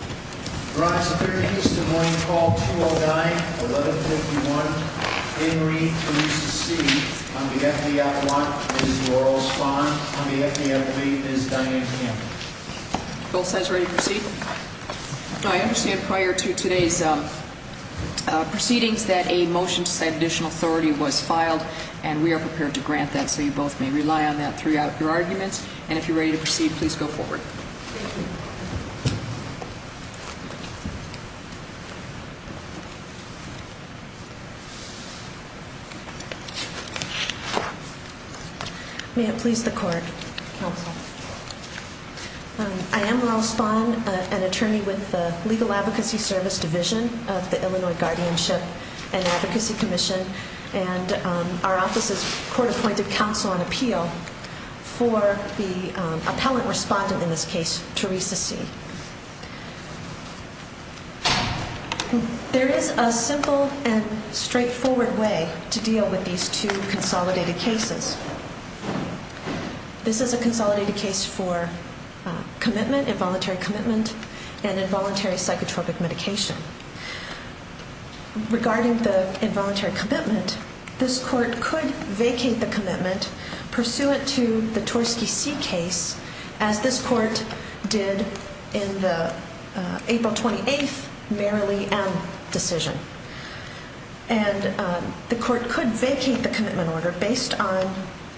I understand prior to today's proceedings that a motion to set additional authority was filed and we are prepared to grant that. So you both may rely on that throughout your arguments. And if you're ready to proceed, please go forward. that. Please, the court, counsel. I am an attorney with the legal advocacy service division of the Illinois guardianship and advocacy commission and our office is court appointed counsel on appeal for the appellant respondent in this case, Teresa C. There is a simple and straightforward way to deal with these two consolidated cases. This is a consolidated case for commitment, involuntary commitment, and involuntary psychotropic medication. Regarding the involuntary commitment, this court could vacate the commitment pursuant to the Torskey C case as this court did in the April 28th Merrilee M decision and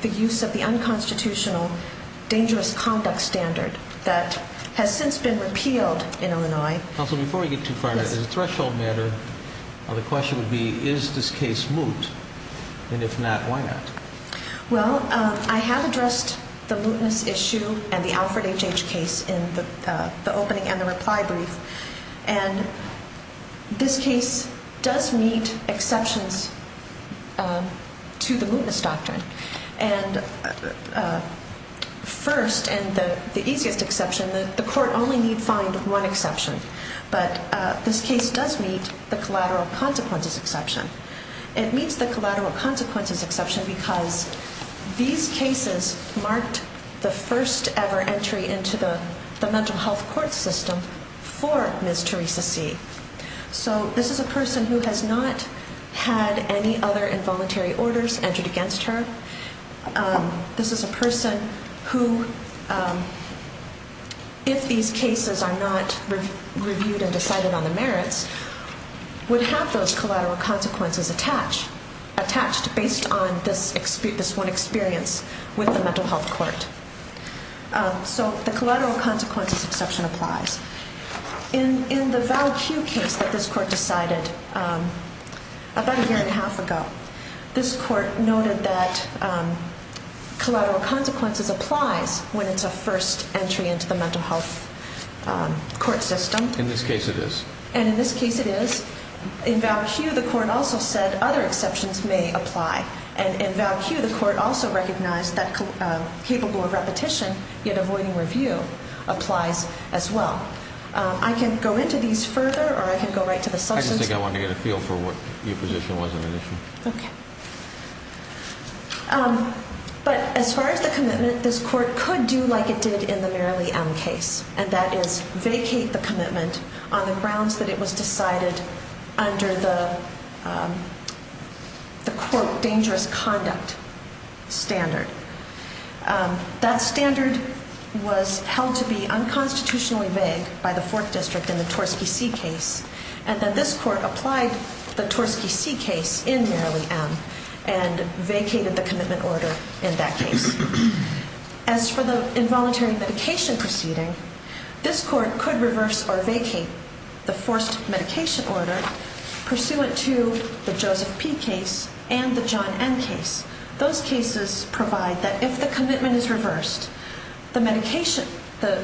the use of the unconstitutional dangerous conduct standard that has since been repealed in Illinois. Counsel, before we get too far, as a threshold matter, the question would be, is this case moot? And if not, why not? Well, I have addressed the mootness issue and the Alfred H.H. case in the opening and this case does meet exceptions to the mootness doctrine. And first, and the easiest exception, the court only need find one exception. But this case does meet the collateral consequences exception. It meets the collateral consequences exception because these cases marked the first ever entry into the mental health court system for Ms. Teresa C. So, this is a person who has not had any other involuntary orders entered against her. This is a person who, if these cases are not reviewed and decided on the merits, would have those collateral consequences attached based on this one experience with the mental health court. So, the collateral consequences exception applies. In the Val Kew case that this court decided about a year and a half ago, this court noted that collateral consequences applies when it's a first entry into the mental health court system. In this case, it is. And in this case, it is. In Val Kew, the court also said other exceptions may apply. And in Val Kew, the court also recognized that capable of repetition, yet avoiding review applies as well. I can go into these further or I can go right to the substance. I just think I wanted to get a feel for what your position was on the issue. Okay. But as far as the commitment, this court could do like it did in the Merrilee M case, and that is vacate the commitment on the grounds that it was decided under the court danger conduct standard. That standard was held to be unconstitutionally vague by the Fourth District in the Torski C case, and that this court applied the Torski C case in Merrilee M and vacated the commitment order in that case. As for the involuntary medication proceeding, this court could reverse or vacate the forced CFP case and the John M case. Those cases provide that if the commitment is reversed, the medication, the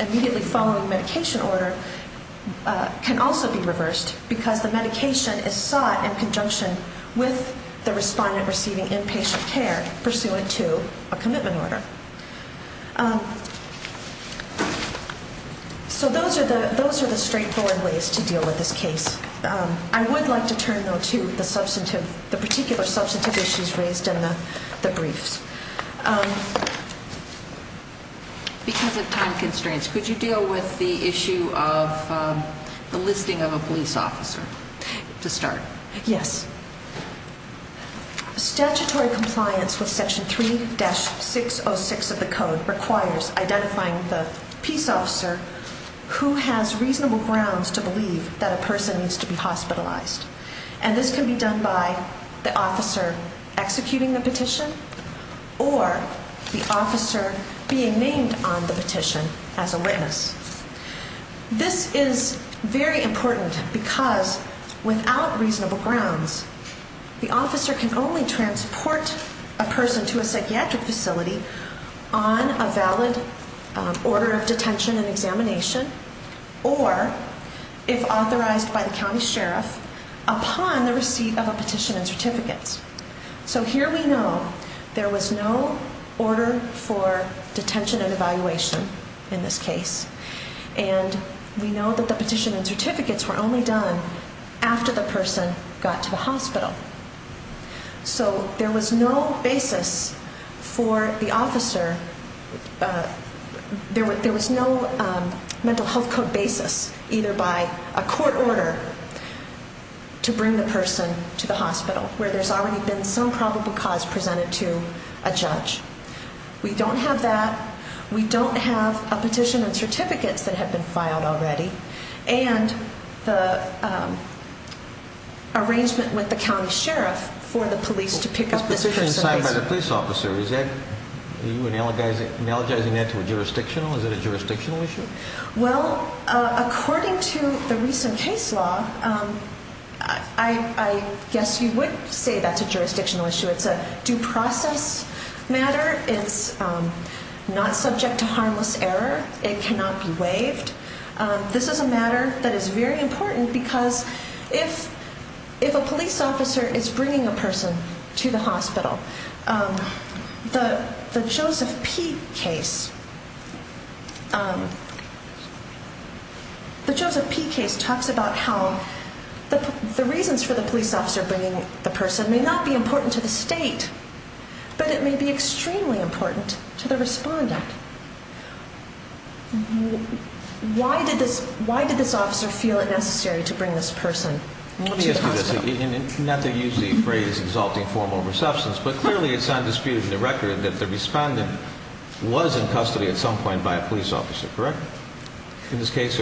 immediately following medication order can also be reversed because the medication is sought in conjunction with the respondent receiving inpatient care pursuant to a commitment order. So those are the straightforward ways to deal with this case. I would like to turn now to the particular substantive issues raised in the briefs. Because of time constraints, could you deal with the issue of the listing of a police officer to start? Yes. Statutory compliance with section 3-606 of the code requires identifying the peace officer who has reasonable grounds to believe that a person needs to be hospitalized. And this can be done by the officer executing the petition or the officer being named on the petition as a witness. This is very important because without reasonable grounds, the officer can only transport a person to a psychiatric facility on a valid order of detention and examination or, if authorized by the county sheriff, upon the receipt of a petition and certificates. So here we know there was no order for detention and evaluation in this case. And we know that the petition and certificates were only done after the person got to the hospital. So there was no basis for the officer, there was no mental health code basis either by a court order to bring the person to the hospital where there's already been some probable cause presented to a judge. We don't have that. We don't have a petition and certificates that have been filed already. And the arrangement with the county sheriff for the police to pick up this petition. This petition signed by the police officer, are you analogizing that to a jurisdictional issue? Well, according to the recent case law, I guess you would say that's a jurisdictional issue. It's a due process matter. It's not subject to harmless error. It cannot be waived. This is a matter that is very important because if a police officer is bringing a person to the hospital, the Joseph P case talks about how the reasons for the police officer bringing the person may not be important to the state, but it may be extremely important to the respondent. Why did this officer feel it necessary to bring this person to the hospital? Let me ask you this. Now they use the phrase exalting form over substance, but clearly it's undisputed in the record that the respondent was in custody at some point by a police officer, correct? In this case?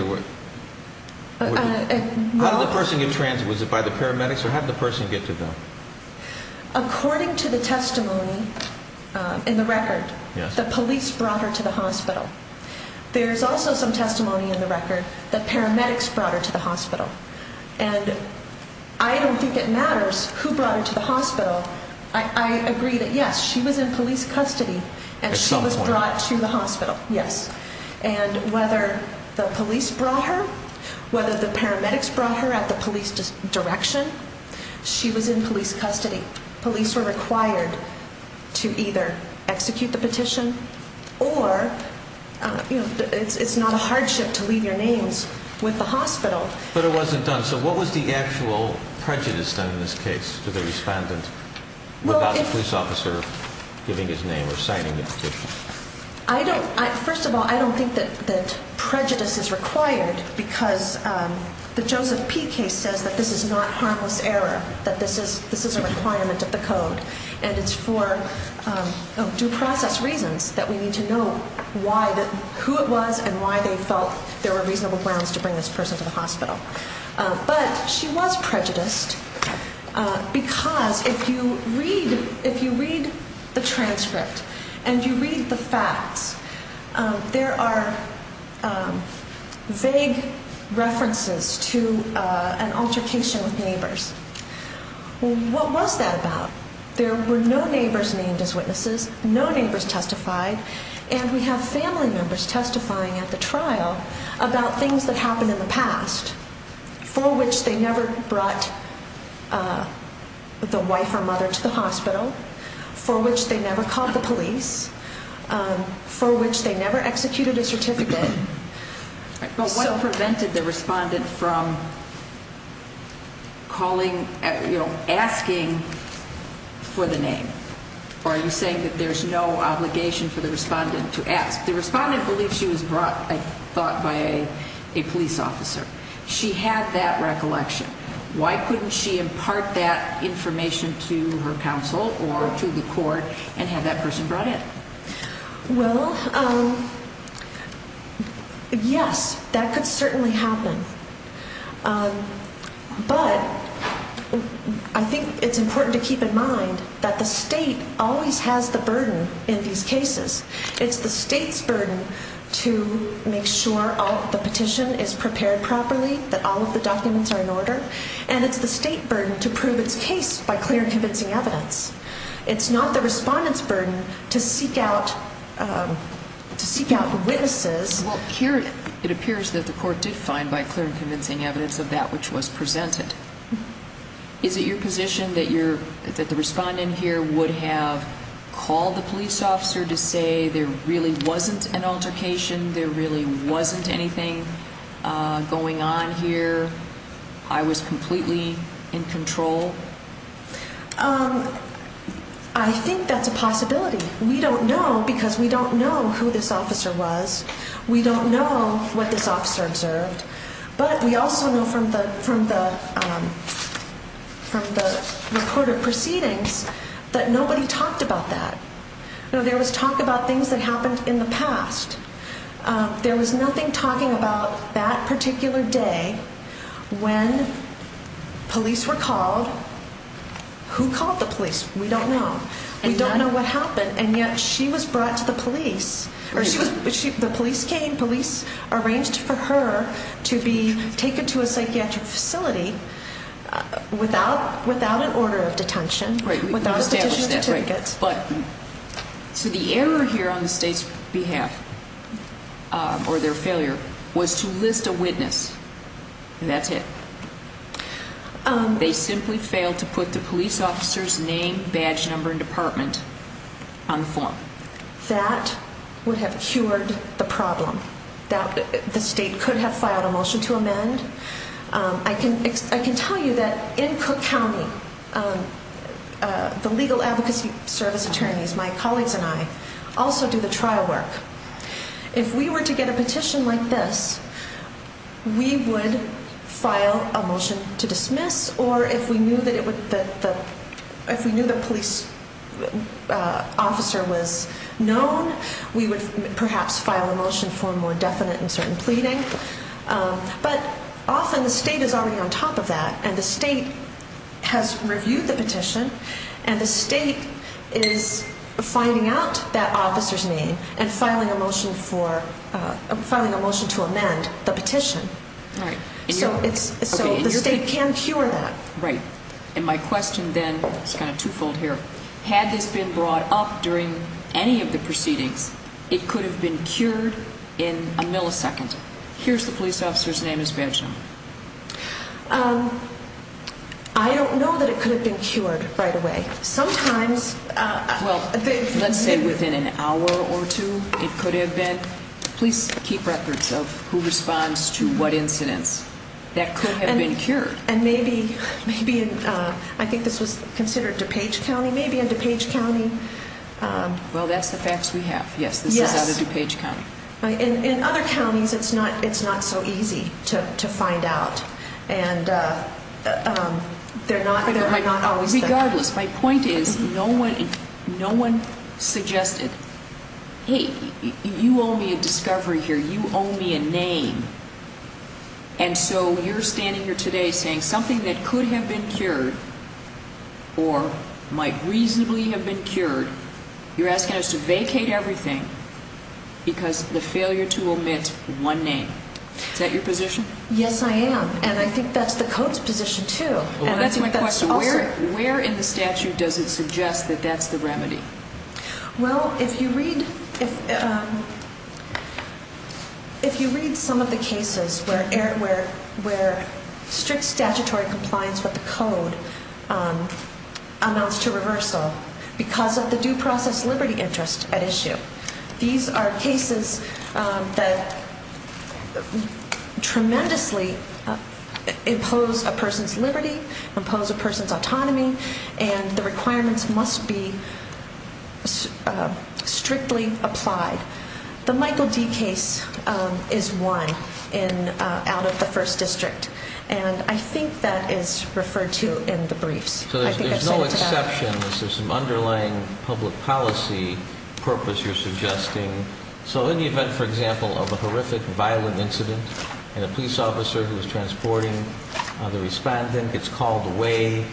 How did the person get transit? Was it by the paramedics or how did the person get to them? According to the testimony in the record, the police brought her to the hospital. There's also some testimony in the record that paramedics brought her to the hospital. And I don't think it matters who brought her to the hospital. I agree that yes, she was in police custody and she was brought to the hospital. Yes. And whether the police brought her, whether the paramedics brought her at the police direction, she was in police custody. Police were required to either execute the petition or, you know, it's not a hardship to leave your names with the hospital. But it wasn't done. So what was the actual prejudice done in this case to the respondent without the police officer giving his name or signing the petition? First of all, I don't think that prejudice is required because the Joseph P. case says that this is not harmless error, that this is a requirement of the code and it's for due process reasons that we need to know who it was and why they felt there were reasonable grounds to bring this person to the hospital. But she was prejudiced because if you read the transcript and you read the facts, there are vague references to an altercation with neighbors. What was that about? There were no neighbors named as witnesses, no neighbors testified, and we have family members testifying at the trial about things that happened in the past for which they never brought the wife or mother to the hospital, for which they never called the police, for which they never executed a certificate. But what prevented the respondent from calling, you know, asking for the name? Or are you saying that there's no obligation for the respondent to ask? The respondent believes she was brought, I thought, by a police officer. She had that recollection. Why couldn't she impart that information to her counsel or to the court and have that person brought in? Well, yes, that could certainly happen. But I think it's important to keep in mind that the state always has the burden in these cases. It's the state's burden to make sure the petition is prepared properly, that all of the documents are in order, and it's the state burden to prove its case by clear and convincing evidence. It's not the respondent's burden to seek out witnesses. Well, here it appears that the court did find by clear and convincing evidence of that which was presented. Is it your position that the respondent here would have called the police officer to say there really wasn't an altercation, there really wasn't anything going on here, I was completely in control? I think that's a possibility. We don't know because we don't know who this officer was. We don't know what this officer observed. But we also know from the report of proceedings that nobody talked about that. There was talk about things that happened in the past. There was nothing talking about that particular day when police were called. Who called the police? We don't know. We don't know what happened, and yet she was brought to the police. The police came, police arranged for her to be taken to a psychiatric facility without an order of detention, without a petition to take it. So the error here on the state's behalf or their failure was to list a witness, and that's it. They simply failed to put the police officer's name, badge number, and department on the form. That would have cured the problem. The state could have filed a motion to amend. I can tell you that in Cook County, the legal advocacy service attorneys, my colleagues and I, also do the trial work. If we were to get a petition like this, we would file a motion to dismiss, or if we knew the police officer was known, we would perhaps file a motion for a more definite and certain pleading. But often the state is already on top of that, and the state has reviewed the petition, and the state is finding out that officer's name and filing a motion to amend the petition. So the state can cure that. And my question then is kind of twofold here. Had this been brought up during any of the proceedings, it could have been cured in a millisecond. Here's the police officer's name and badge number. I don't know that it could have been cured right away. Sometimes, well, let's say within an hour or two, it could have been. Please keep records of who responds to what incidents. That could have been cured. And maybe, I think this was considered DuPage County, maybe in DuPage County. Well, that's the facts we have. Yes, this is out of DuPage County. In other counties, it's not so easy to find out. And they're not always there. Regardless, my point is no one suggested, hey, you owe me a discovery here. You owe me a name. And so you're standing here today saying something that could have been cured or might reasonably have been cured, you're asking us to vacate everything because of the failure to omit one name. Is that your position? Yes, I am. And I think that's the code's position too. Well, that's my question. Where in the statute does it suggest that that's the remedy? Well, if you read some of the cases where strict statutory compliance with the code amounts to reversal because of the due process liberty interest at issue, these are cases that tremendously impose a person's liberty, impose a person's autonomy, and the requirements must be strictly applied. The Michael D. case is one out of the 1st District. And I think that is referred to in the briefs. So there's no exception. There's some underlying public policy purpose you're suggesting. So in the event, for example, of a horrific, violent incident, and a police officer who is transporting the respondent gets called away,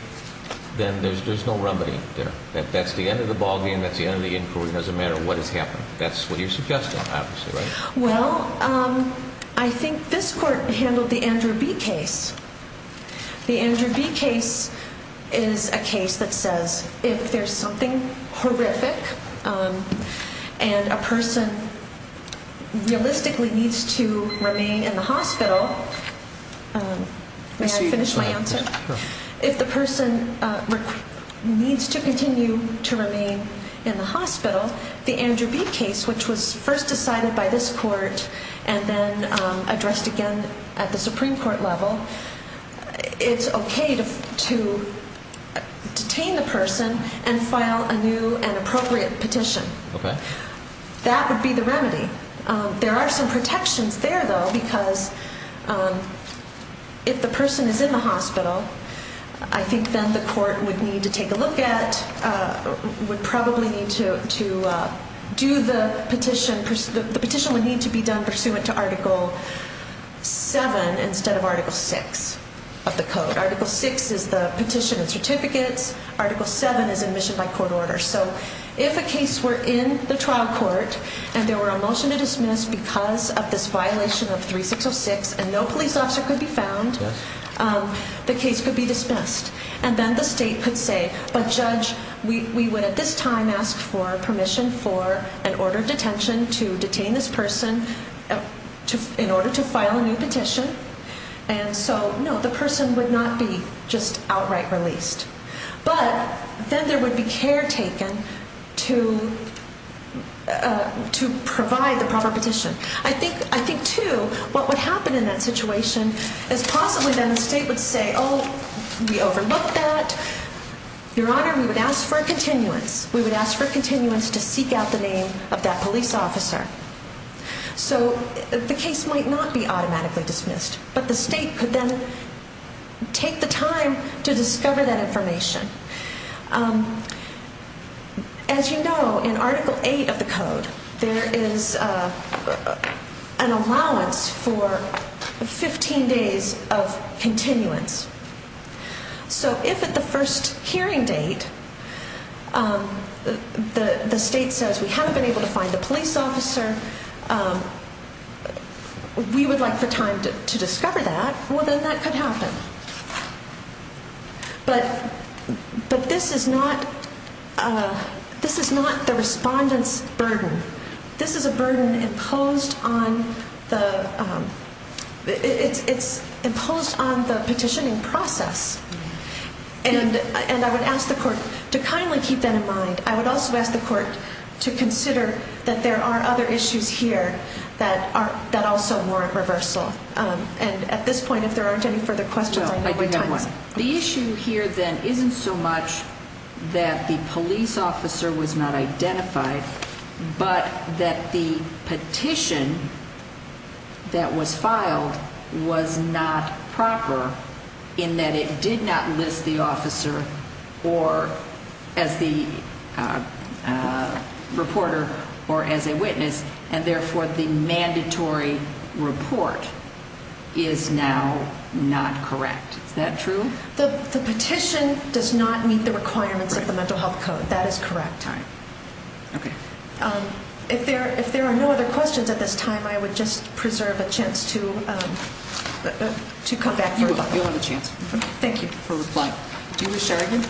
then there's no remedy there. That's the end of the ballgame. That's the end of the inquiry. It doesn't matter what has happened. That's what you're suggesting, obviously, right? Well, I think this Court handled the Andrew B. case. The Andrew B. case is a case that says if there's something horrific and a person realistically needs to remain in the hospital, may I finish my answer? If the person needs to continue to remain in the hospital, the Andrew B. case, which was first decided by this Court and then addressed again at the Supreme Court level, it's okay to detain the person and file a new and appropriate petition. Okay. That would be the remedy. There are some protections there, though, because if the person is in the hospital, I think then the Court would need to take a look at, would probably need to do the petition. The petition would need to be done pursuant to Article 7 instead of Article 6 of the code. Article 6 is the petition and certificates. Article 7 is admission by court order. So if a case were in the trial court and there were a motion to dismiss because of this violation of 3606 and no police officer could be found, the case could be dismissed. And then the state could say, but Judge, we would at this time ask for permission for an order of detention to detain this person in order to file a new petition. And so, no, the person would not be just outright released. But then there would be care taken to provide the proper petition. I think, too, what would happen in that situation is possibly then the state would say, oh, we overlooked that. Your Honor, we would ask for a continuance. We would ask for a continuance to seek out the name of that police officer. So the case might not be automatically dismissed, but the state could then take the time to discover that information. As you know, in Article 8 of the code, there is an allowance for 15 days of continuance. So if at the first hearing date the state says, we haven't been able to find the police officer, we would like the time to discover that, well, then that could happen. But this is not the respondent's burden. This is a burden imposed on the petitioning process. And I would ask the court to kindly keep that in mind. I would also ask the court to consider that there are other issues here that also warrant reversal. And at this point, if there aren't any further questions, I know the time is up. No, I do have one. The issue here then isn't so much that the police officer was not identified, but that the petition that was filed was not proper in that it did not list the officer as the reporter or as a witness, and therefore the mandatory report is now not correct. Is that true? The petition does not meet the requirements of the Mental Health Code. That is correct. Okay. If there are no other questions at this time, I would just preserve a chance to come back for reply. You'll have a chance. Thank you. Do you wish to argue?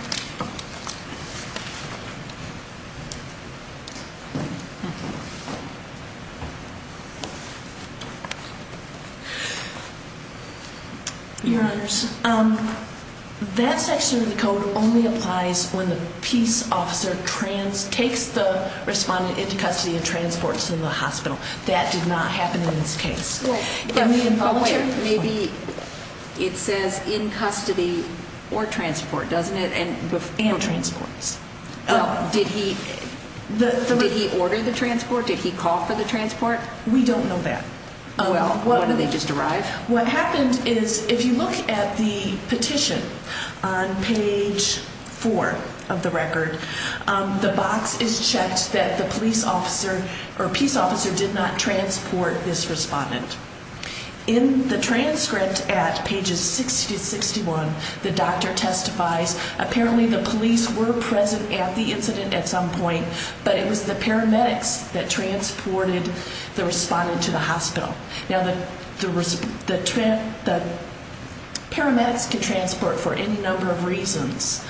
Your Honors, that section of the code only applies when the peace officer takes the respondent into custody and transports them to the hospital. That did not happen in this case. Wait. Maybe it says in custody or transport, doesn't it? And transports. Did he order the transport? Did he call for the transport? We don't know that. Well, when did they just arrive? What happened is if you look at the petition on page 4 of the record, the box is checked that the police officer or peace officer did not transport this respondent. In the transcript at pages 60 to 61, the doctor testifies, apparently the police were present at the incident at some point, but it was the paramedics that transported the respondent to the hospital. Now, the paramedics can transport for any number of reasons.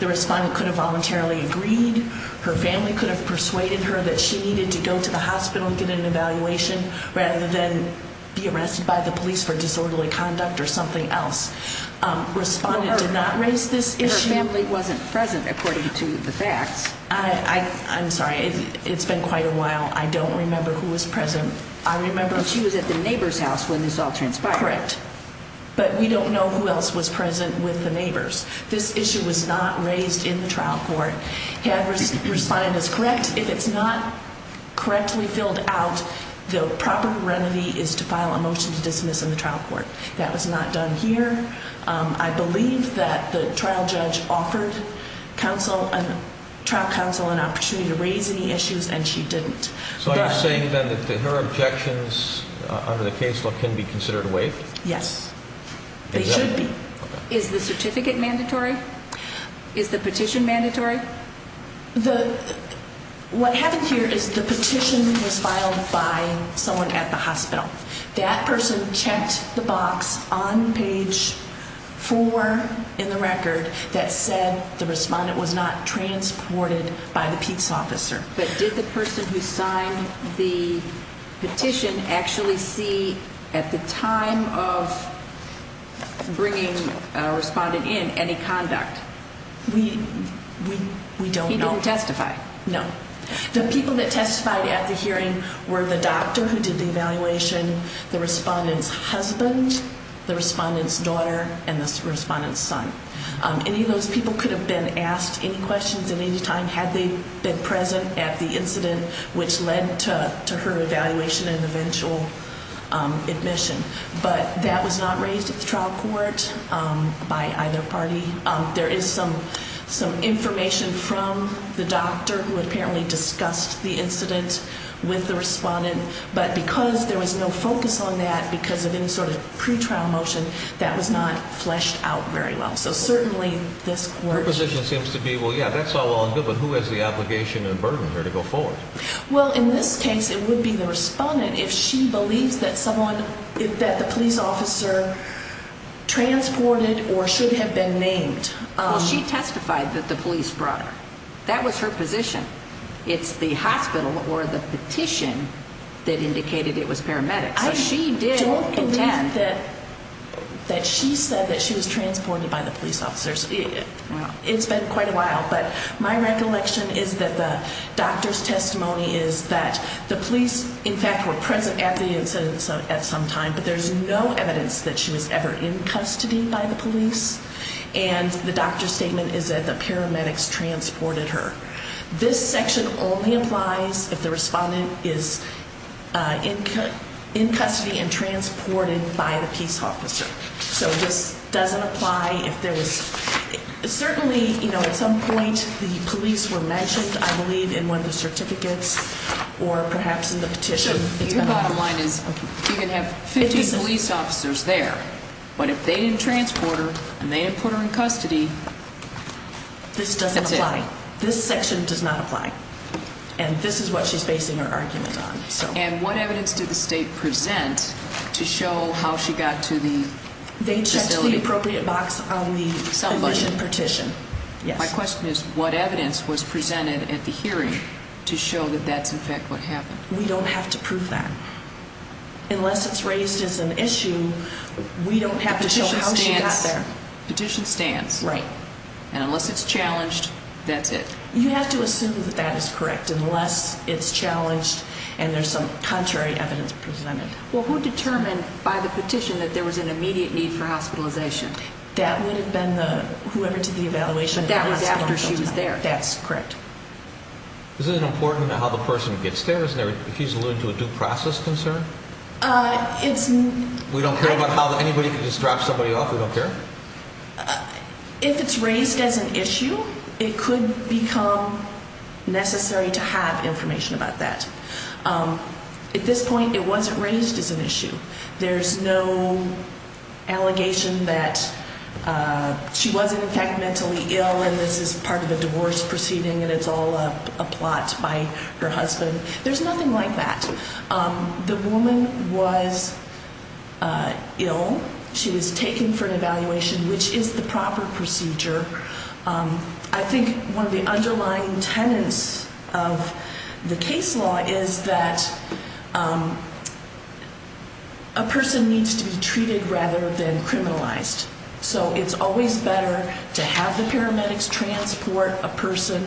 The respondent could have voluntarily agreed. Her family could have persuaded her that she needed to go to the hospital to get an evaluation rather than be arrested by the police for disorderly conduct or something else. Respondent did not raise this issue. Her family wasn't present according to the facts. I'm sorry. It's been quite a while. I don't remember who was present. I remember she was at the neighbor's house when this all transpired. Correct. But we don't know who else was present with the neighbors. This issue was not raised in the trial court. Had respondent is correct, if it's not correctly filled out, the proper remedy is to file a motion to dismiss in the trial court. That was not done here. I believe that the trial judge offered trial counsel an opportunity to raise any issues, and she didn't. So are you saying, then, that her objections under the case law can be considered waived? Yes. They should be. Is the certificate mandatory? Is the petition mandatory? What happened here is the petition was filed by someone at the hospital. That person checked the box on page 4 in the record that said the respondent was not transported by the peace officer. But did the person who signed the petition actually see, at the time of bringing a respondent in, any conduct? We don't know. He didn't testify? No. The people that testified at the hearing were the doctor who did the evaluation, the respondent's husband, the respondent's daughter, and the respondent's son. Any of those people could have been asked any questions at any time had they been present at the incident, which led to her evaluation and eventual admission. But that was not raised at the trial court by either party. There is some information from the doctor who apparently discussed the incident with the respondent, but because there was no focus on that because of any sort of pre-trial motion, that was not fleshed out very well. So, certainly, this works. Her position seems to be, well, yeah, that's all well and good, but who has the obligation and burden here to go forward? Well, in this case, it would be the respondent if she believes that the police officer transported or should have been named. Well, she testified that the police brought her. That was her position. It's the hospital or the petition that indicated it was paramedics. I don't believe that she said that she was transported by the police officers. It's been quite a while, but my recollection is that the doctor's testimony is that the police, in fact, were present at the incident at some time, but there's no evidence that she was ever in custody by the police, and the doctor's statement is that the paramedics transported her. This section only applies if the respondent is in custody and transported by the police officer. So this doesn't apply if there was certainly, you know, at some point the police were mentioned, I believe, in one of the certificates or perhaps in the petition. Sure. Your bottom line is you can have 50 police officers there, but if they didn't transport her and they didn't put her in custody, that's it. It doesn't apply. This section does not apply, and this is what she's basing her argument on. And what evidence did the state present to show how she got to the facility? They checked the appropriate box on the petition. My question is what evidence was presented at the hearing to show that that's, in fact, what happened? We don't have to prove that. Unless it's raised as an issue, we don't have to show how she got there. The petition stands. Right. And unless it's challenged, that's it. You have to assume that that is correct, unless it's challenged and there's some contrary evidence presented. Well, who determined by the petition that there was an immediate need for hospitalization? That would have been whoever did the evaluation. But that was after she was there. That's correct. Isn't it important how the person gets there? He's alluding to a due process concern. We don't care about how anybody can just drop somebody off? We don't care? If it's raised as an issue, it could become necessary to have information about that. At this point, it wasn't raised as an issue. There's no allegation that she wasn't, in fact, mentally ill and this is part of a divorce proceeding and it's all a plot by her husband. There's nothing like that. The woman was ill. She was taken for an evaluation, which is the proper procedure. I think one of the underlying tenants of the case law is that a person needs to be treated rather than criminalized. It's always better to have the paramedics transport a person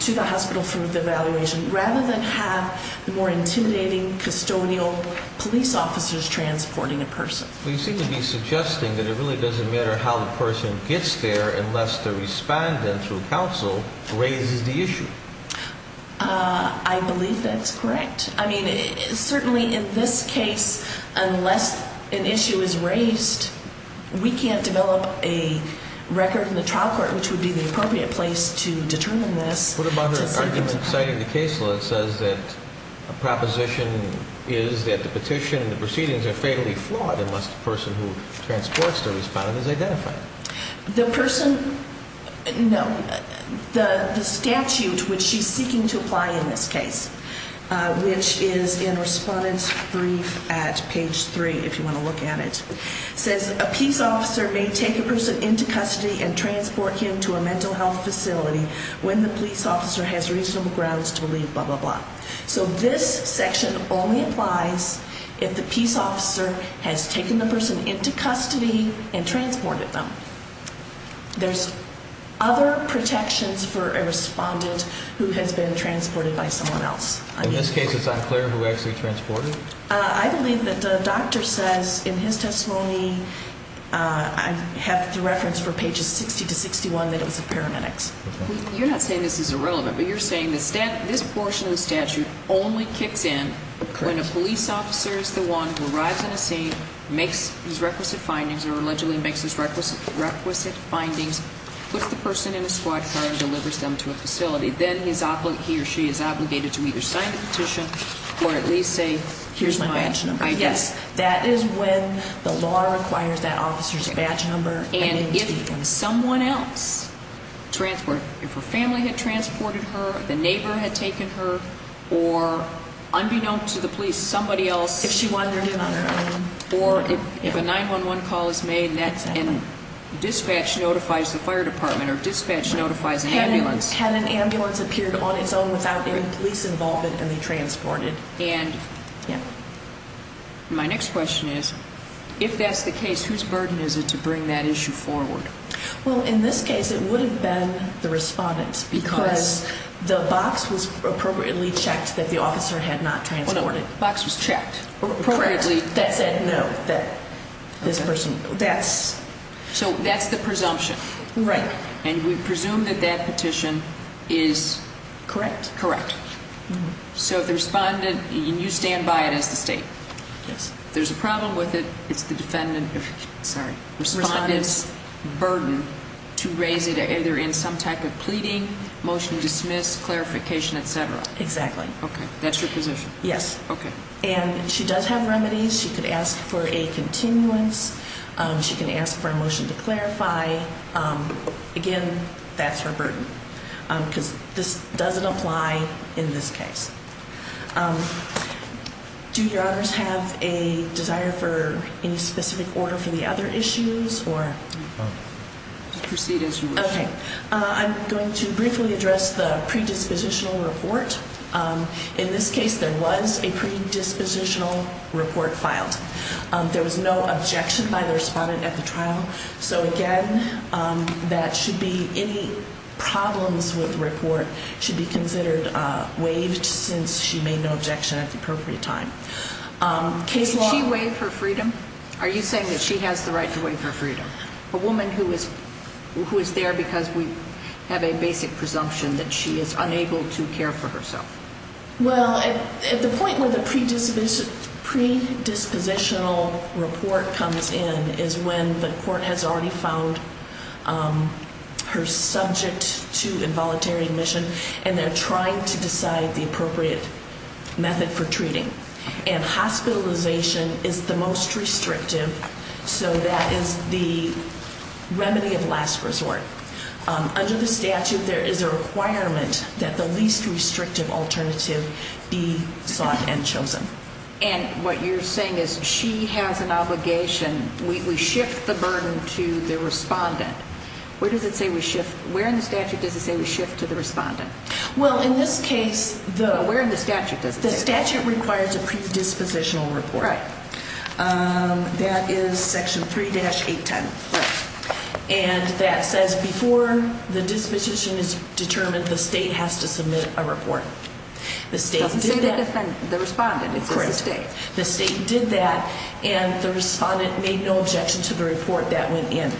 to the hospital for the evaluation rather than have the more intimidating custodial police officers transporting a person. You seem to be suggesting that it really doesn't matter how the person gets there unless the respondent, through counsel, raises the issue. I believe that's correct. I mean, certainly in this case, unless an issue is raised, we can't develop a record in the trial court, which would be the appropriate place to determine this. What about her argument citing the case law that says that a proposition is that the petition and the proceedings are fatally flawed unless the person who transports the respondent is identified? The statute which she's seeking to apply in this case, which is in Respondent's Brief at page 3 if you want to look at it, says a peace officer may take a person into custody and transport him to a mental health facility when the police officer has reasonable grounds to leave, blah, blah, blah. So this section only applies if the peace officer has taken the person into custody and transported them. There's other protections for a respondent who has been transported by someone else. In this case, it's unclear who actually transported? I believe that the doctor says in his testimony, I have the reference for pages 60 to 61, that it was the paramedics. You're not saying this is irrelevant, but you're saying this portion of the statute only kicks in when a police officer is the one who arrives in a scene, makes his requisite findings, or allegedly makes his requisite findings, puts the person in a squad car, and delivers them to a facility. Then he or she is obligated to either sign the petition or at least say, here's my badge number. Yes, that is when the law requires that officer's badge number. And if someone else transported, if her family had transported her, the neighbor had taken her, or unbeknownst to the police, somebody else. If she wandered in on her own. Or if a 911 call is made and dispatch notifies the fire department or dispatch notifies an ambulance. Had an ambulance appeared on its own without any police involvement and be transported. And my next question is, if that's the case, whose burden is it to bring that issue forward? Well, in this case, it would have been the respondent's because the box was appropriately checked that the officer had not transported. Well, the box was checked. Or appropriately. That said no, that this person. So that's the presumption. Right. And we presume that that petition is correct. Correct. So the respondent, you stand by it as the state. Yes. If there's a problem with it, it's the defendant, sorry, respondent's burden to raise it either in some type of pleading, motion to dismiss, clarification, etc. Exactly. Okay. That's your position? Yes. Okay. And she does have remedies. She could ask for a continuance. She can ask for a motion to clarify. Again, that's her burden. Because this doesn't apply in this case. Do your honors have a desire for any specific order for the other issues? Proceed as you wish. Okay. I'm going to briefly address the predispositional report. In this case, there was a predispositional report filed. There was no objection by the respondent at the trial. So, again, that should be any problems with the report should be considered waived since she made no objection at the appropriate time. Did she waive her freedom? Are you saying that she has the right to waive her freedom? A woman who is there because we have a basic presumption that she is unable to care for herself. Well, at the point where the predispositional report comes in is when the court has already found her subject to involuntary admission and they're trying to decide the appropriate method for treating. And hospitalization is the most restrictive, so that is the remedy of last resort. Under the statute, there is a requirement that the least restrictive alternative be sought and chosen. And what you're saying is she has an obligation. We shift the burden to the respondent. Where does it say we shift? Where in the statute does it say we shift to the respondent? Well, in this case, the statute requires a predispositional report. That is section 3-810. And that says before the disposition is determined, the state has to submit a report. It doesn't say the respondent, it says the state. The state did that, and the respondent made no objection to the report that went in.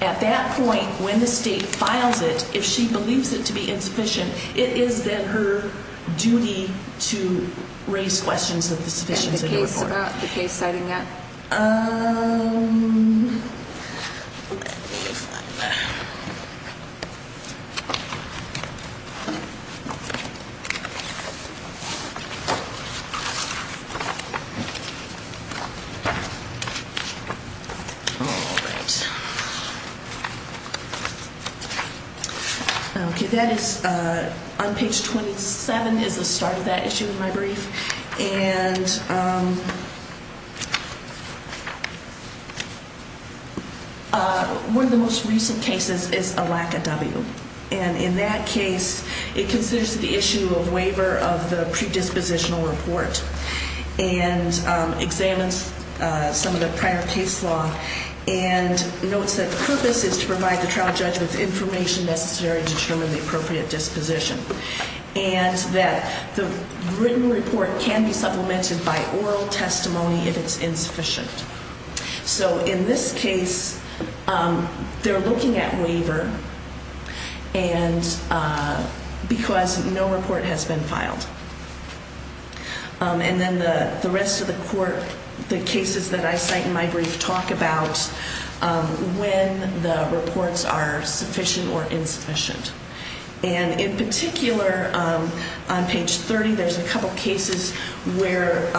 At that point, when the state files it, if she believes it to be insufficient, it is then her duty to raise questions of the sufficiency of the report. What about the case citing that? On page 27 is the start of that issue in my brief. And one of the most recent cases is a lack of W. And in that case, it considers the issue of waiver of the predispositional report and examines some of the prior case law and notes that the purpose is to provide the trial judge with information necessary to determine the appropriate disposition. And that the written report can be supplemented by oral testimony if it's insufficient. So in this case, they're looking at waiver because no report has been filed. And then the rest of the court, the cases that I cite in my brief, talk about when the reports are sufficient or insufficient. And in particular, on page 30, there's a couple cases where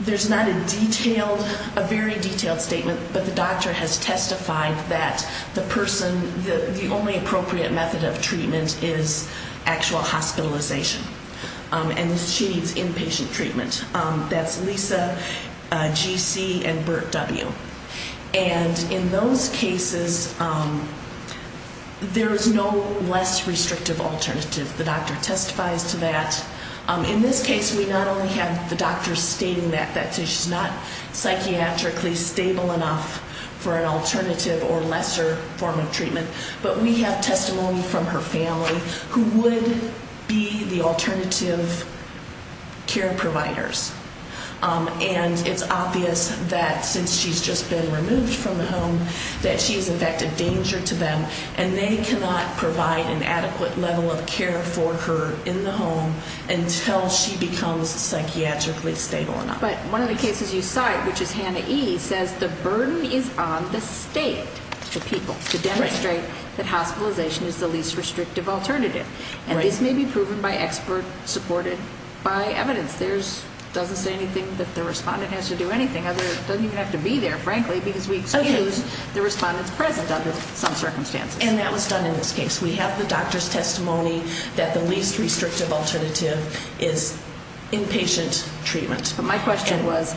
there's not a detailed, a very detailed statement, but the doctor has testified that the person, the only appropriate method of treatment is actual hospitalization. And she needs inpatient treatment. That's Lisa, GC, and Burt W. And in those cases, there is no less restrictive alternative. The doctor testifies to that. In this case, we not only have the doctor stating that, that she's not psychiatrically stable enough for an alternative or lesser form of treatment, but we have testimony from her family who would be the alternative care providers. And it's obvious that since she's just been removed from the home, that she is in fact a danger to them, and they cannot provide an adequate level of care for her in the home until she becomes psychiatrically stable enough. But one of the cases you cite, which is Hannah E., says the burden is on the state, the people, to demonstrate that hospitalization is the least restrictive alternative. And this may be proven by expert supported by evidence. It doesn't say anything that the respondent has to do anything. It doesn't even have to be there, frankly, because we excuse the respondent's presence under some circumstances. And that was done in this case. We have the doctor's testimony that the least restrictive alternative is inpatient treatment. But my question was,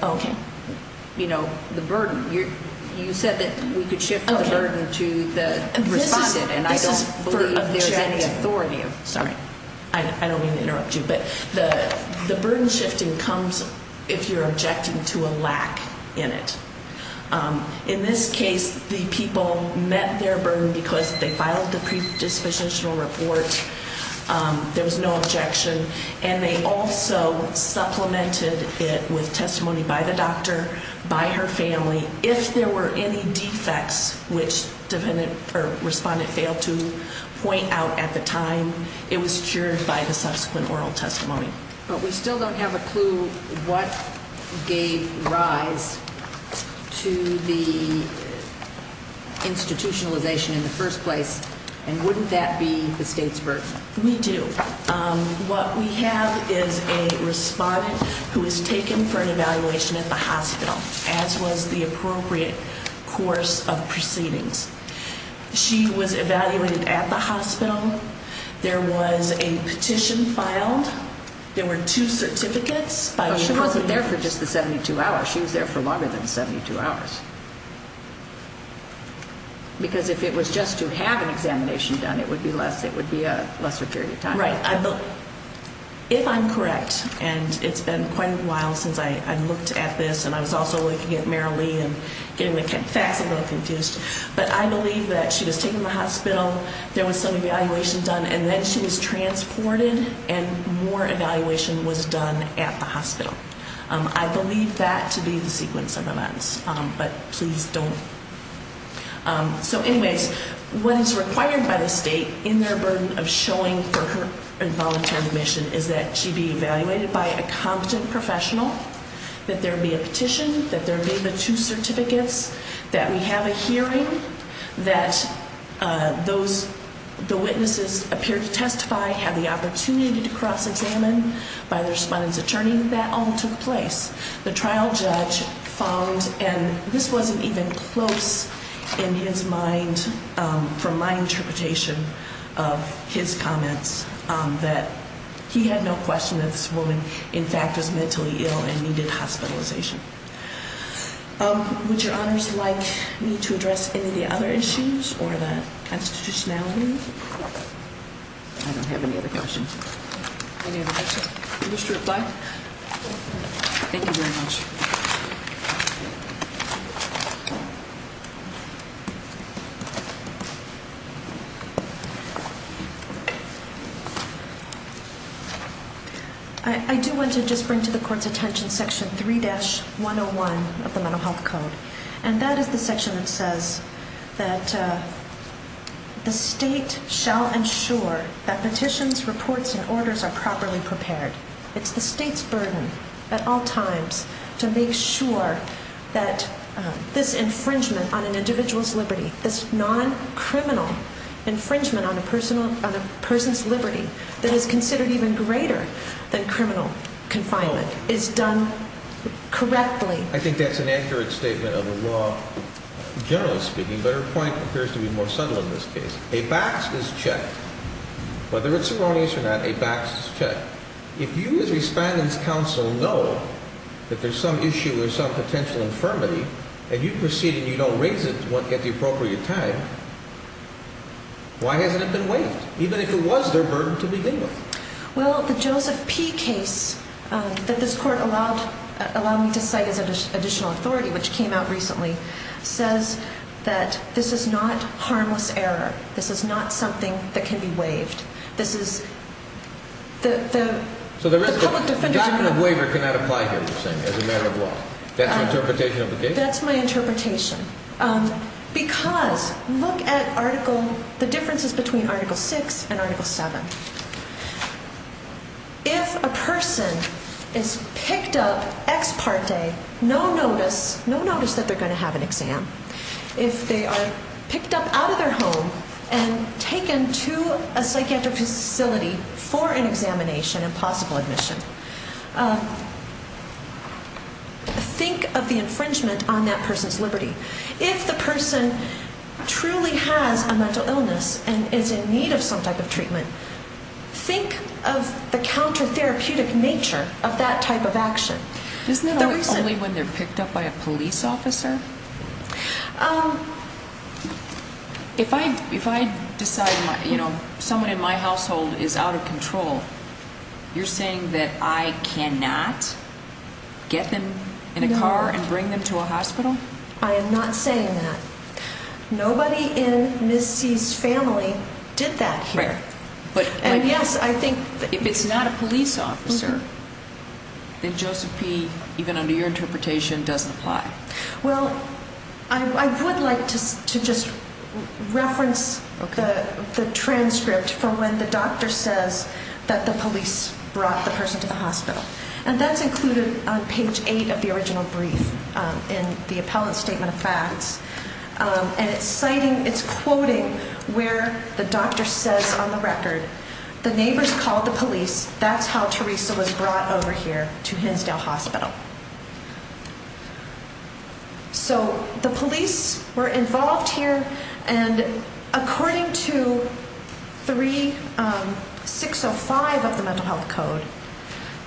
you know, the burden. You said that we could shift the burden to the respondent, and I don't believe there's any authority. Sorry, I don't mean to interrupt you. But the burden shifting comes if you're objecting to a lack in it. In this case, the people met their burden because they filed the predispositional report. There was no objection. And they also supplemented it with testimony by the doctor, by her family. If there were any defects, which the respondent failed to point out at the time, it was cured by the subsequent oral testimony. But we still don't have a clue what gave rise to the institutionalization in the first place. And wouldn't that be the state's burden? We do. What we have is a respondent who was taken for an evaluation at the hospital, as was the appropriate course of proceedings. She was evaluated at the hospital. There was a petition filed. There were two certificates. But she wasn't there for just the 72 hours. She was there for longer than 72 hours. Because if it was just to have an examination done, it would be a lesser period of time. Right. If I'm correct, and it's been quite a while since I looked at this, and I was also looking at Marilee and getting the facts a little confused, but I believe that she was taken to the hospital, there was some evaluation done, and then she was transported and more evaluation was done at the hospital. I believe that to be the sequence of events. But please don't. So, anyways, what is required by the state in their burden of showing for her involuntary admission is that she be evaluated by a competent professional, that there be a petition, that there be the two certificates, that we have a hearing, that the witnesses appear to testify, have the opportunity to cross-examine by the respondent's attorney. That all took place. The trial judge found, and this wasn't even close in his mind from my interpretation of his comments, that he had no question that this woman, in fact, was mentally ill and needed hospitalization. Would your honors like me to address any of the other issues or the constitutionality? I don't have any other questions. Any other questions? Mr. McBride? Thank you very much. I do want to just bring to the court's attention Section 3-101 of the Mental Health Code, and that is the section that says that the state shall ensure that petitions, reports, and orders are properly prepared. It's the state's burden at all times to make sure that this infringement on an individual's liberty, this non-criminal infringement on a person's liberty that is considered even greater than criminal confinement, is done correctly. I think that's an accurate statement of the law, generally speaking, but her point appears to be more subtle in this case. A BACS is checked. Whether it's erroneous or not, a BACS is checked. If you, as respondent's counsel, know that there's some issue or some potential infirmity, and you proceed and you don't raise it at the appropriate time, why hasn't it been waived, even if it was their burden to begin with? Well, the Joseph P. case that this Court allowed me to cite as additional authority, which came out recently, says that this is not harmless error. This is not something that can be waived. This is the public defender's… That's your interpretation of the case? That's my interpretation. Because look at the differences between Article VI and Article VII. If a person is picked up ex parte, no notice, no notice that they're going to have an exam. If they are picked up out of their home and taken to a psychiatric facility for an examination and possible admission, think of the infringement on that person's liberty. If the person truly has a mental illness and is in need of some type of treatment, think of the counter-therapeutic nature of that type of action. Isn't it only when they're picked up by a police officer? If I decide someone in my household is out of control, you're saying that I cannot get them in a car and bring them to a hospital? I am not saying that. Nobody in Ms. C.'s family did that here. And, yes, I think if it's not a police officer, then Joseph P., even under your interpretation, doesn't apply. Well, I would like to just reference the transcript for when the doctor says that the police brought the person to the hospital. And that's included on page 8 of the original brief in the appellate statement of facts. And it's citing, it's quoting where the doctor says on the record, the neighbors called the police, that's how Teresa was brought over here to Hinsdale Hospital. So the police were involved here, and according to 3605 of the Mental Health Code,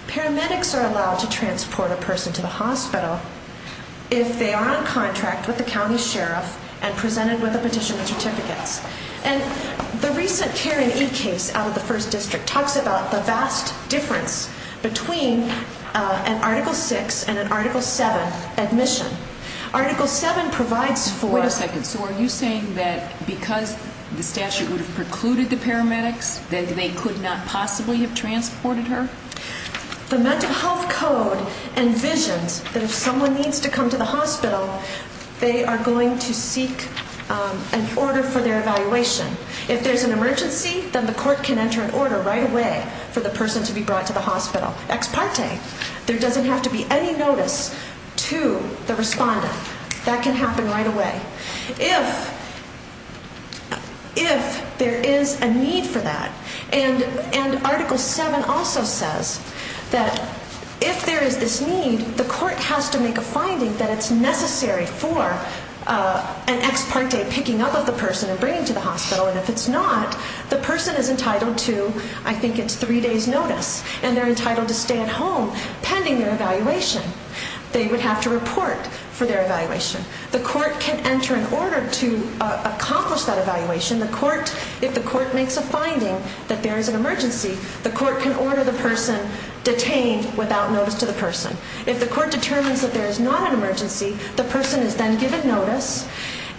paramedics are allowed to transport a person to the hospital if they are on a contract with the county sheriff and presented with a petition of certificates. And the recent Karen E. case out of the 1st District talks about the vast difference between an Article VI and an Article VII admission. Article VII provides for... Wait a second. So are you saying that because the statute would have precluded the paramedics, that they could not possibly have transported her? The Mental Health Code envisions that if someone needs to come to the hospital, they are going to seek an order for their evaluation. If there's an emergency, then the court can enter an order right away for the person to be brought to the hospital. Ex parte. There doesn't have to be any notice to the respondent. That can happen right away. If there is a need for that, and Article VII also says that if there is this need, the court has to make a finding that it's necessary for an ex parte picking up of the person and bringing to the hospital, and if it's not, the person is entitled to, I think it's three days' notice, and they're entitled to stay at home pending their evaluation. They would have to report for their evaluation. The court can enter an order to accomplish that evaluation. If the court makes a finding that there is an emergency, the court can order the person detained without notice to the person. If the court determines that there is not an emergency, the person is then given notice,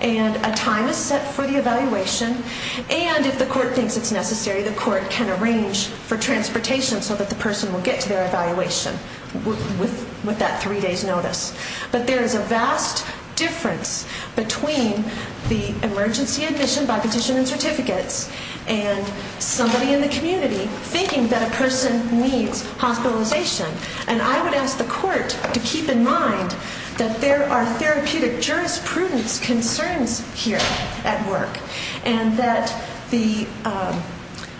and a time is set for the evaluation, and if the court thinks it's necessary, the court can arrange for transportation so that the person will get to their evaluation with that three days' notice. But there is a vast difference between the emergency admission by petition and certificates and somebody in the community thinking that a person needs hospitalization, and I would ask the court to keep in mind that there are therapeutic jurisprudence concerns here at work and that the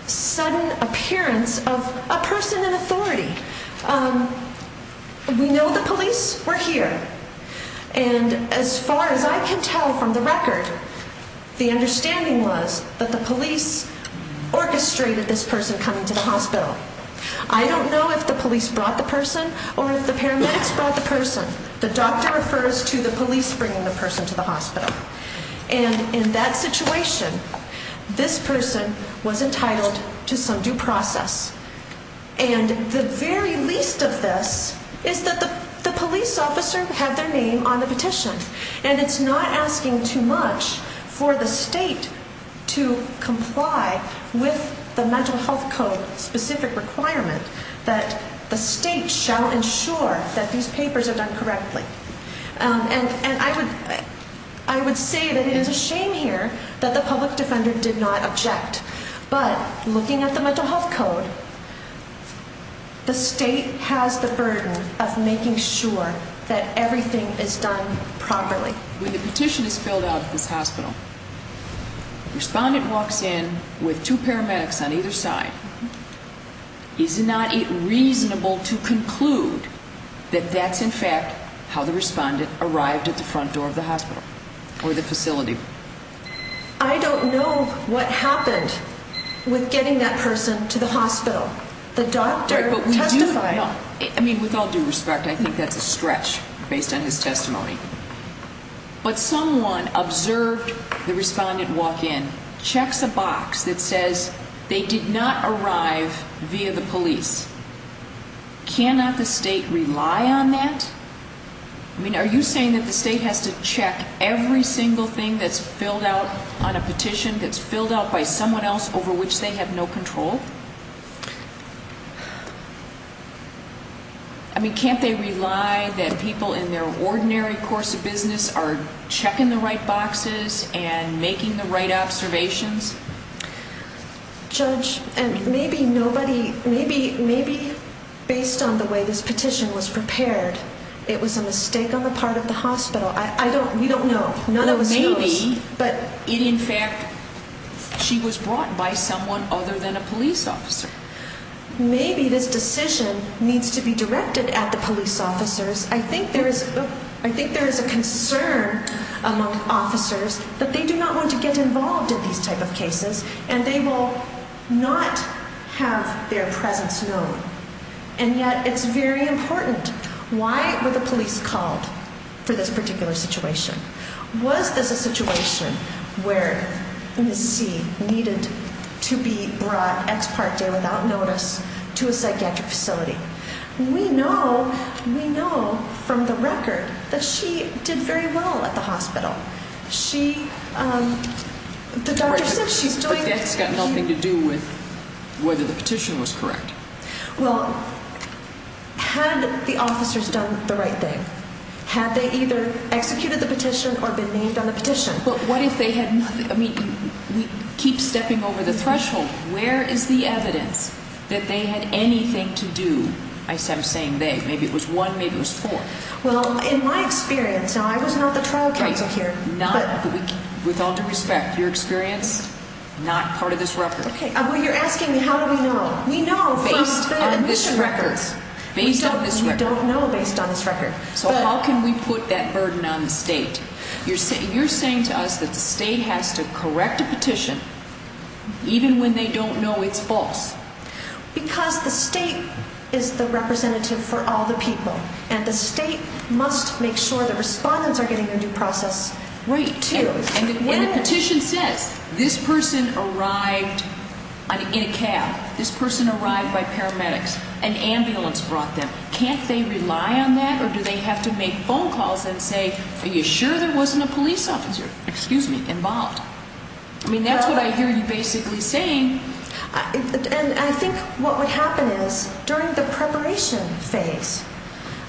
sudden appearance of a person in authority, we know the police, we're here, and as far as I can tell from the record, the understanding was that the police orchestrated this person coming to the hospital. I don't know if the police brought the person or if the paramedics brought the person. The doctor refers to the police bringing the person to the hospital, and in that situation, this person was entitled to some due process, and the very least of this is that the police officer had their name on the petition, and it's not asking too much for the state to comply with the Mental Health Code-specific requirement that the state shall ensure that these papers are done correctly. And I would say that it is a shame here that the public defender did not object, but looking at the Mental Health Code, the state has the burden of making sure that everything is done properly. When the petition is filled out at this hospital, the respondent walks in with two paramedics on either side. Is it not reasonable to conclude that that's in fact how the respondent arrived at the front door of the hospital or the facility? I don't know what happened with getting that person to the hospital. The doctor testified. I mean, with all due respect, I think that's a stretch based on his testimony. But someone observed the respondent walk in, checks a box that says they did not arrive via the police. Cannot the state rely on that? I mean, are you saying that the state has to check every single thing that's filled out on a petition, that's filled out by someone else over which they have no control? I mean, can't they rely that people in their ordinary course of business are checking the right boxes and making the right observations? Judge, maybe nobody, maybe based on the way this petition was prepared, it was a mistake on the part of the hospital. I don't, we don't know. None of us know. But in fact, she was brought by someone other than a police officer. Maybe this decision needs to be directed at the police officers. I think there is a concern among officers that they do not want to get involved in these type of cases, and they will not have their presence known. And yet it's very important. Why were the police called for this particular situation? Was this a situation where Ms. C needed to be brought ex parte without notice to a psychiatric facility? We know, we know from the record that she did very well at the hospital. She, the doctor said she's doing... But that's got nothing to do with whether the petition was correct. Well, had the officers done the right thing? Had they either executed the petition or been named on the petition? But what if they had nothing, I mean, we keep stepping over the threshold. Where is the evidence that they had anything to do? I'm saying they, maybe it was one, maybe it was four. Well, in my experience, now I was not the trial counsel here. Right, not, with all due respect, your experience, not part of this record. Okay, well you're asking me how do we know? We know from the admission records. Based on this record. We don't know based on this record. So how can we put that burden on the state? You're saying to us that the state has to correct a petition even when they don't know it's false. Because the state is the representative for all the people. And the state must make sure the respondents are getting their due process. Right, and the petition says this person arrived in a cab. This person arrived by paramedics. An ambulance brought them. Can't they rely on that? Or do they have to make phone calls and say, are you sure there wasn't a police officer, excuse me, involved? I mean, that's what I hear you basically saying. And I think what would happen is during the preparation phase,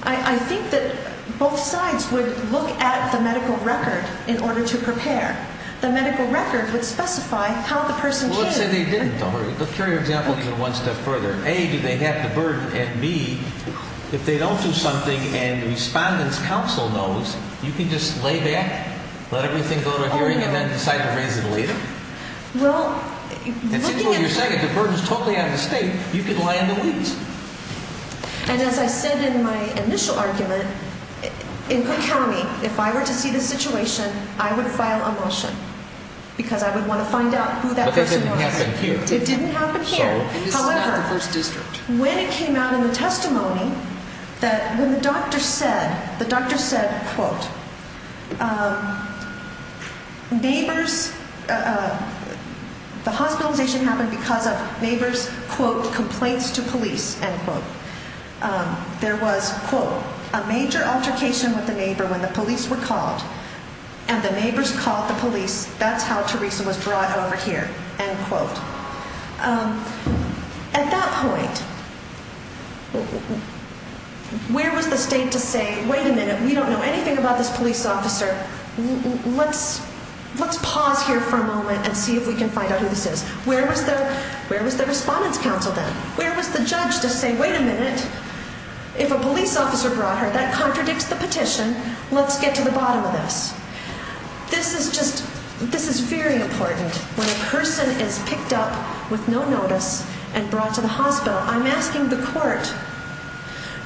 I think that both sides would look at the medical record in order to prepare. The medical record would specify how the person came. Well, let's say they didn't, though. Let's carry our example one step further. A, do they have the burden? And B, if they don't do something and the respondent's counsel knows, you can just lay back, let everything go to hearing, and then decide to raise it later? Well, looking at the burden. You're saying if the burden is totally on the state, you can lie in the weeds. And as I said in my initial argument, in Cook County, if I were to see this situation, I would file a motion because I would want to find out who that person was. But that didn't happen here. It didn't happen here. And this is not the first district. However, when it came out in the testimony that when the doctor said, the doctor said, quote, neighbors, the hospitalization happened because of neighbors, quote, complaints to police, end quote. There was, quote, a major altercation with the neighbor when the police were called, and the neighbors called the police. That's how Teresa was brought over here, end quote. At that point, where was the state to say, wait a minute, we don't know anything about this police officer. Let's pause here for a moment and see if we can find out who this is. Where was the respondent's counsel then? Where was the judge to say, wait a minute, if a police officer brought her, that contradicts the petition. Let's get to the bottom of this. This is just, this is very important. When a person is picked up with no notice and brought to the hospital, I'm asking the court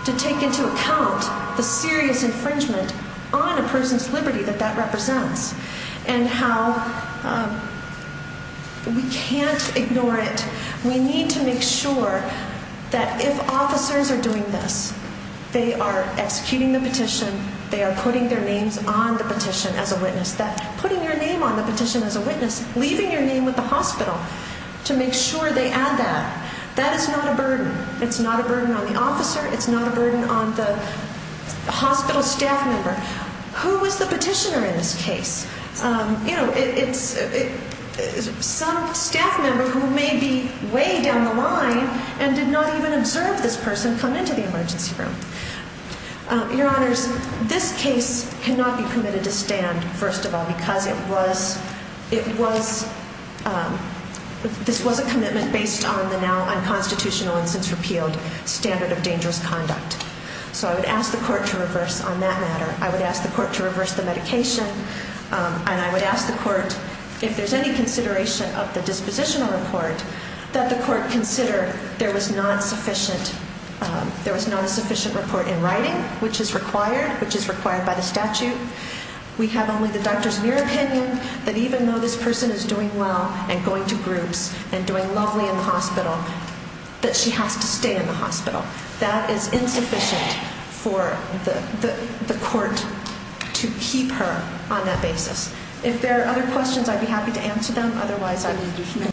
to take into account the serious infringement on a person's liberty that that represents and how we can't ignore it. We need to make sure that if officers are doing this, they are executing the petition, they are putting their names on the petition as a witness, that putting your name on the petition as a witness, leaving your name with the hospital to make sure they add that. That is not a burden. It's not a burden on the officer. It's not a burden on the hospital staff member. Who was the petitioner in this case? You know, it's some staff member who may be way down the line and did not even observe this person come into the emergency room. Your Honors, this case cannot be permitted to stand, first of all, because it was, this was a commitment based on the now unconstitutional and since repealed standard of dangerous conduct. So I would ask the court to reverse on that matter. I would ask the court to reverse the medication, and I would ask the court if there's any consideration of the dispositional report, that the court consider there was not sufficient, there was not a sufficient report in writing, which is required, which is required by the statute. We have only the doctor's mere opinion that even though this person is doing well and going to groups and doing lovely in the hospital, that she has to stay in the hospital. That is insufficient for the court to keep her on that basis. If there are other questions, I'd be happy to answer them. Otherwise, I'll leave you.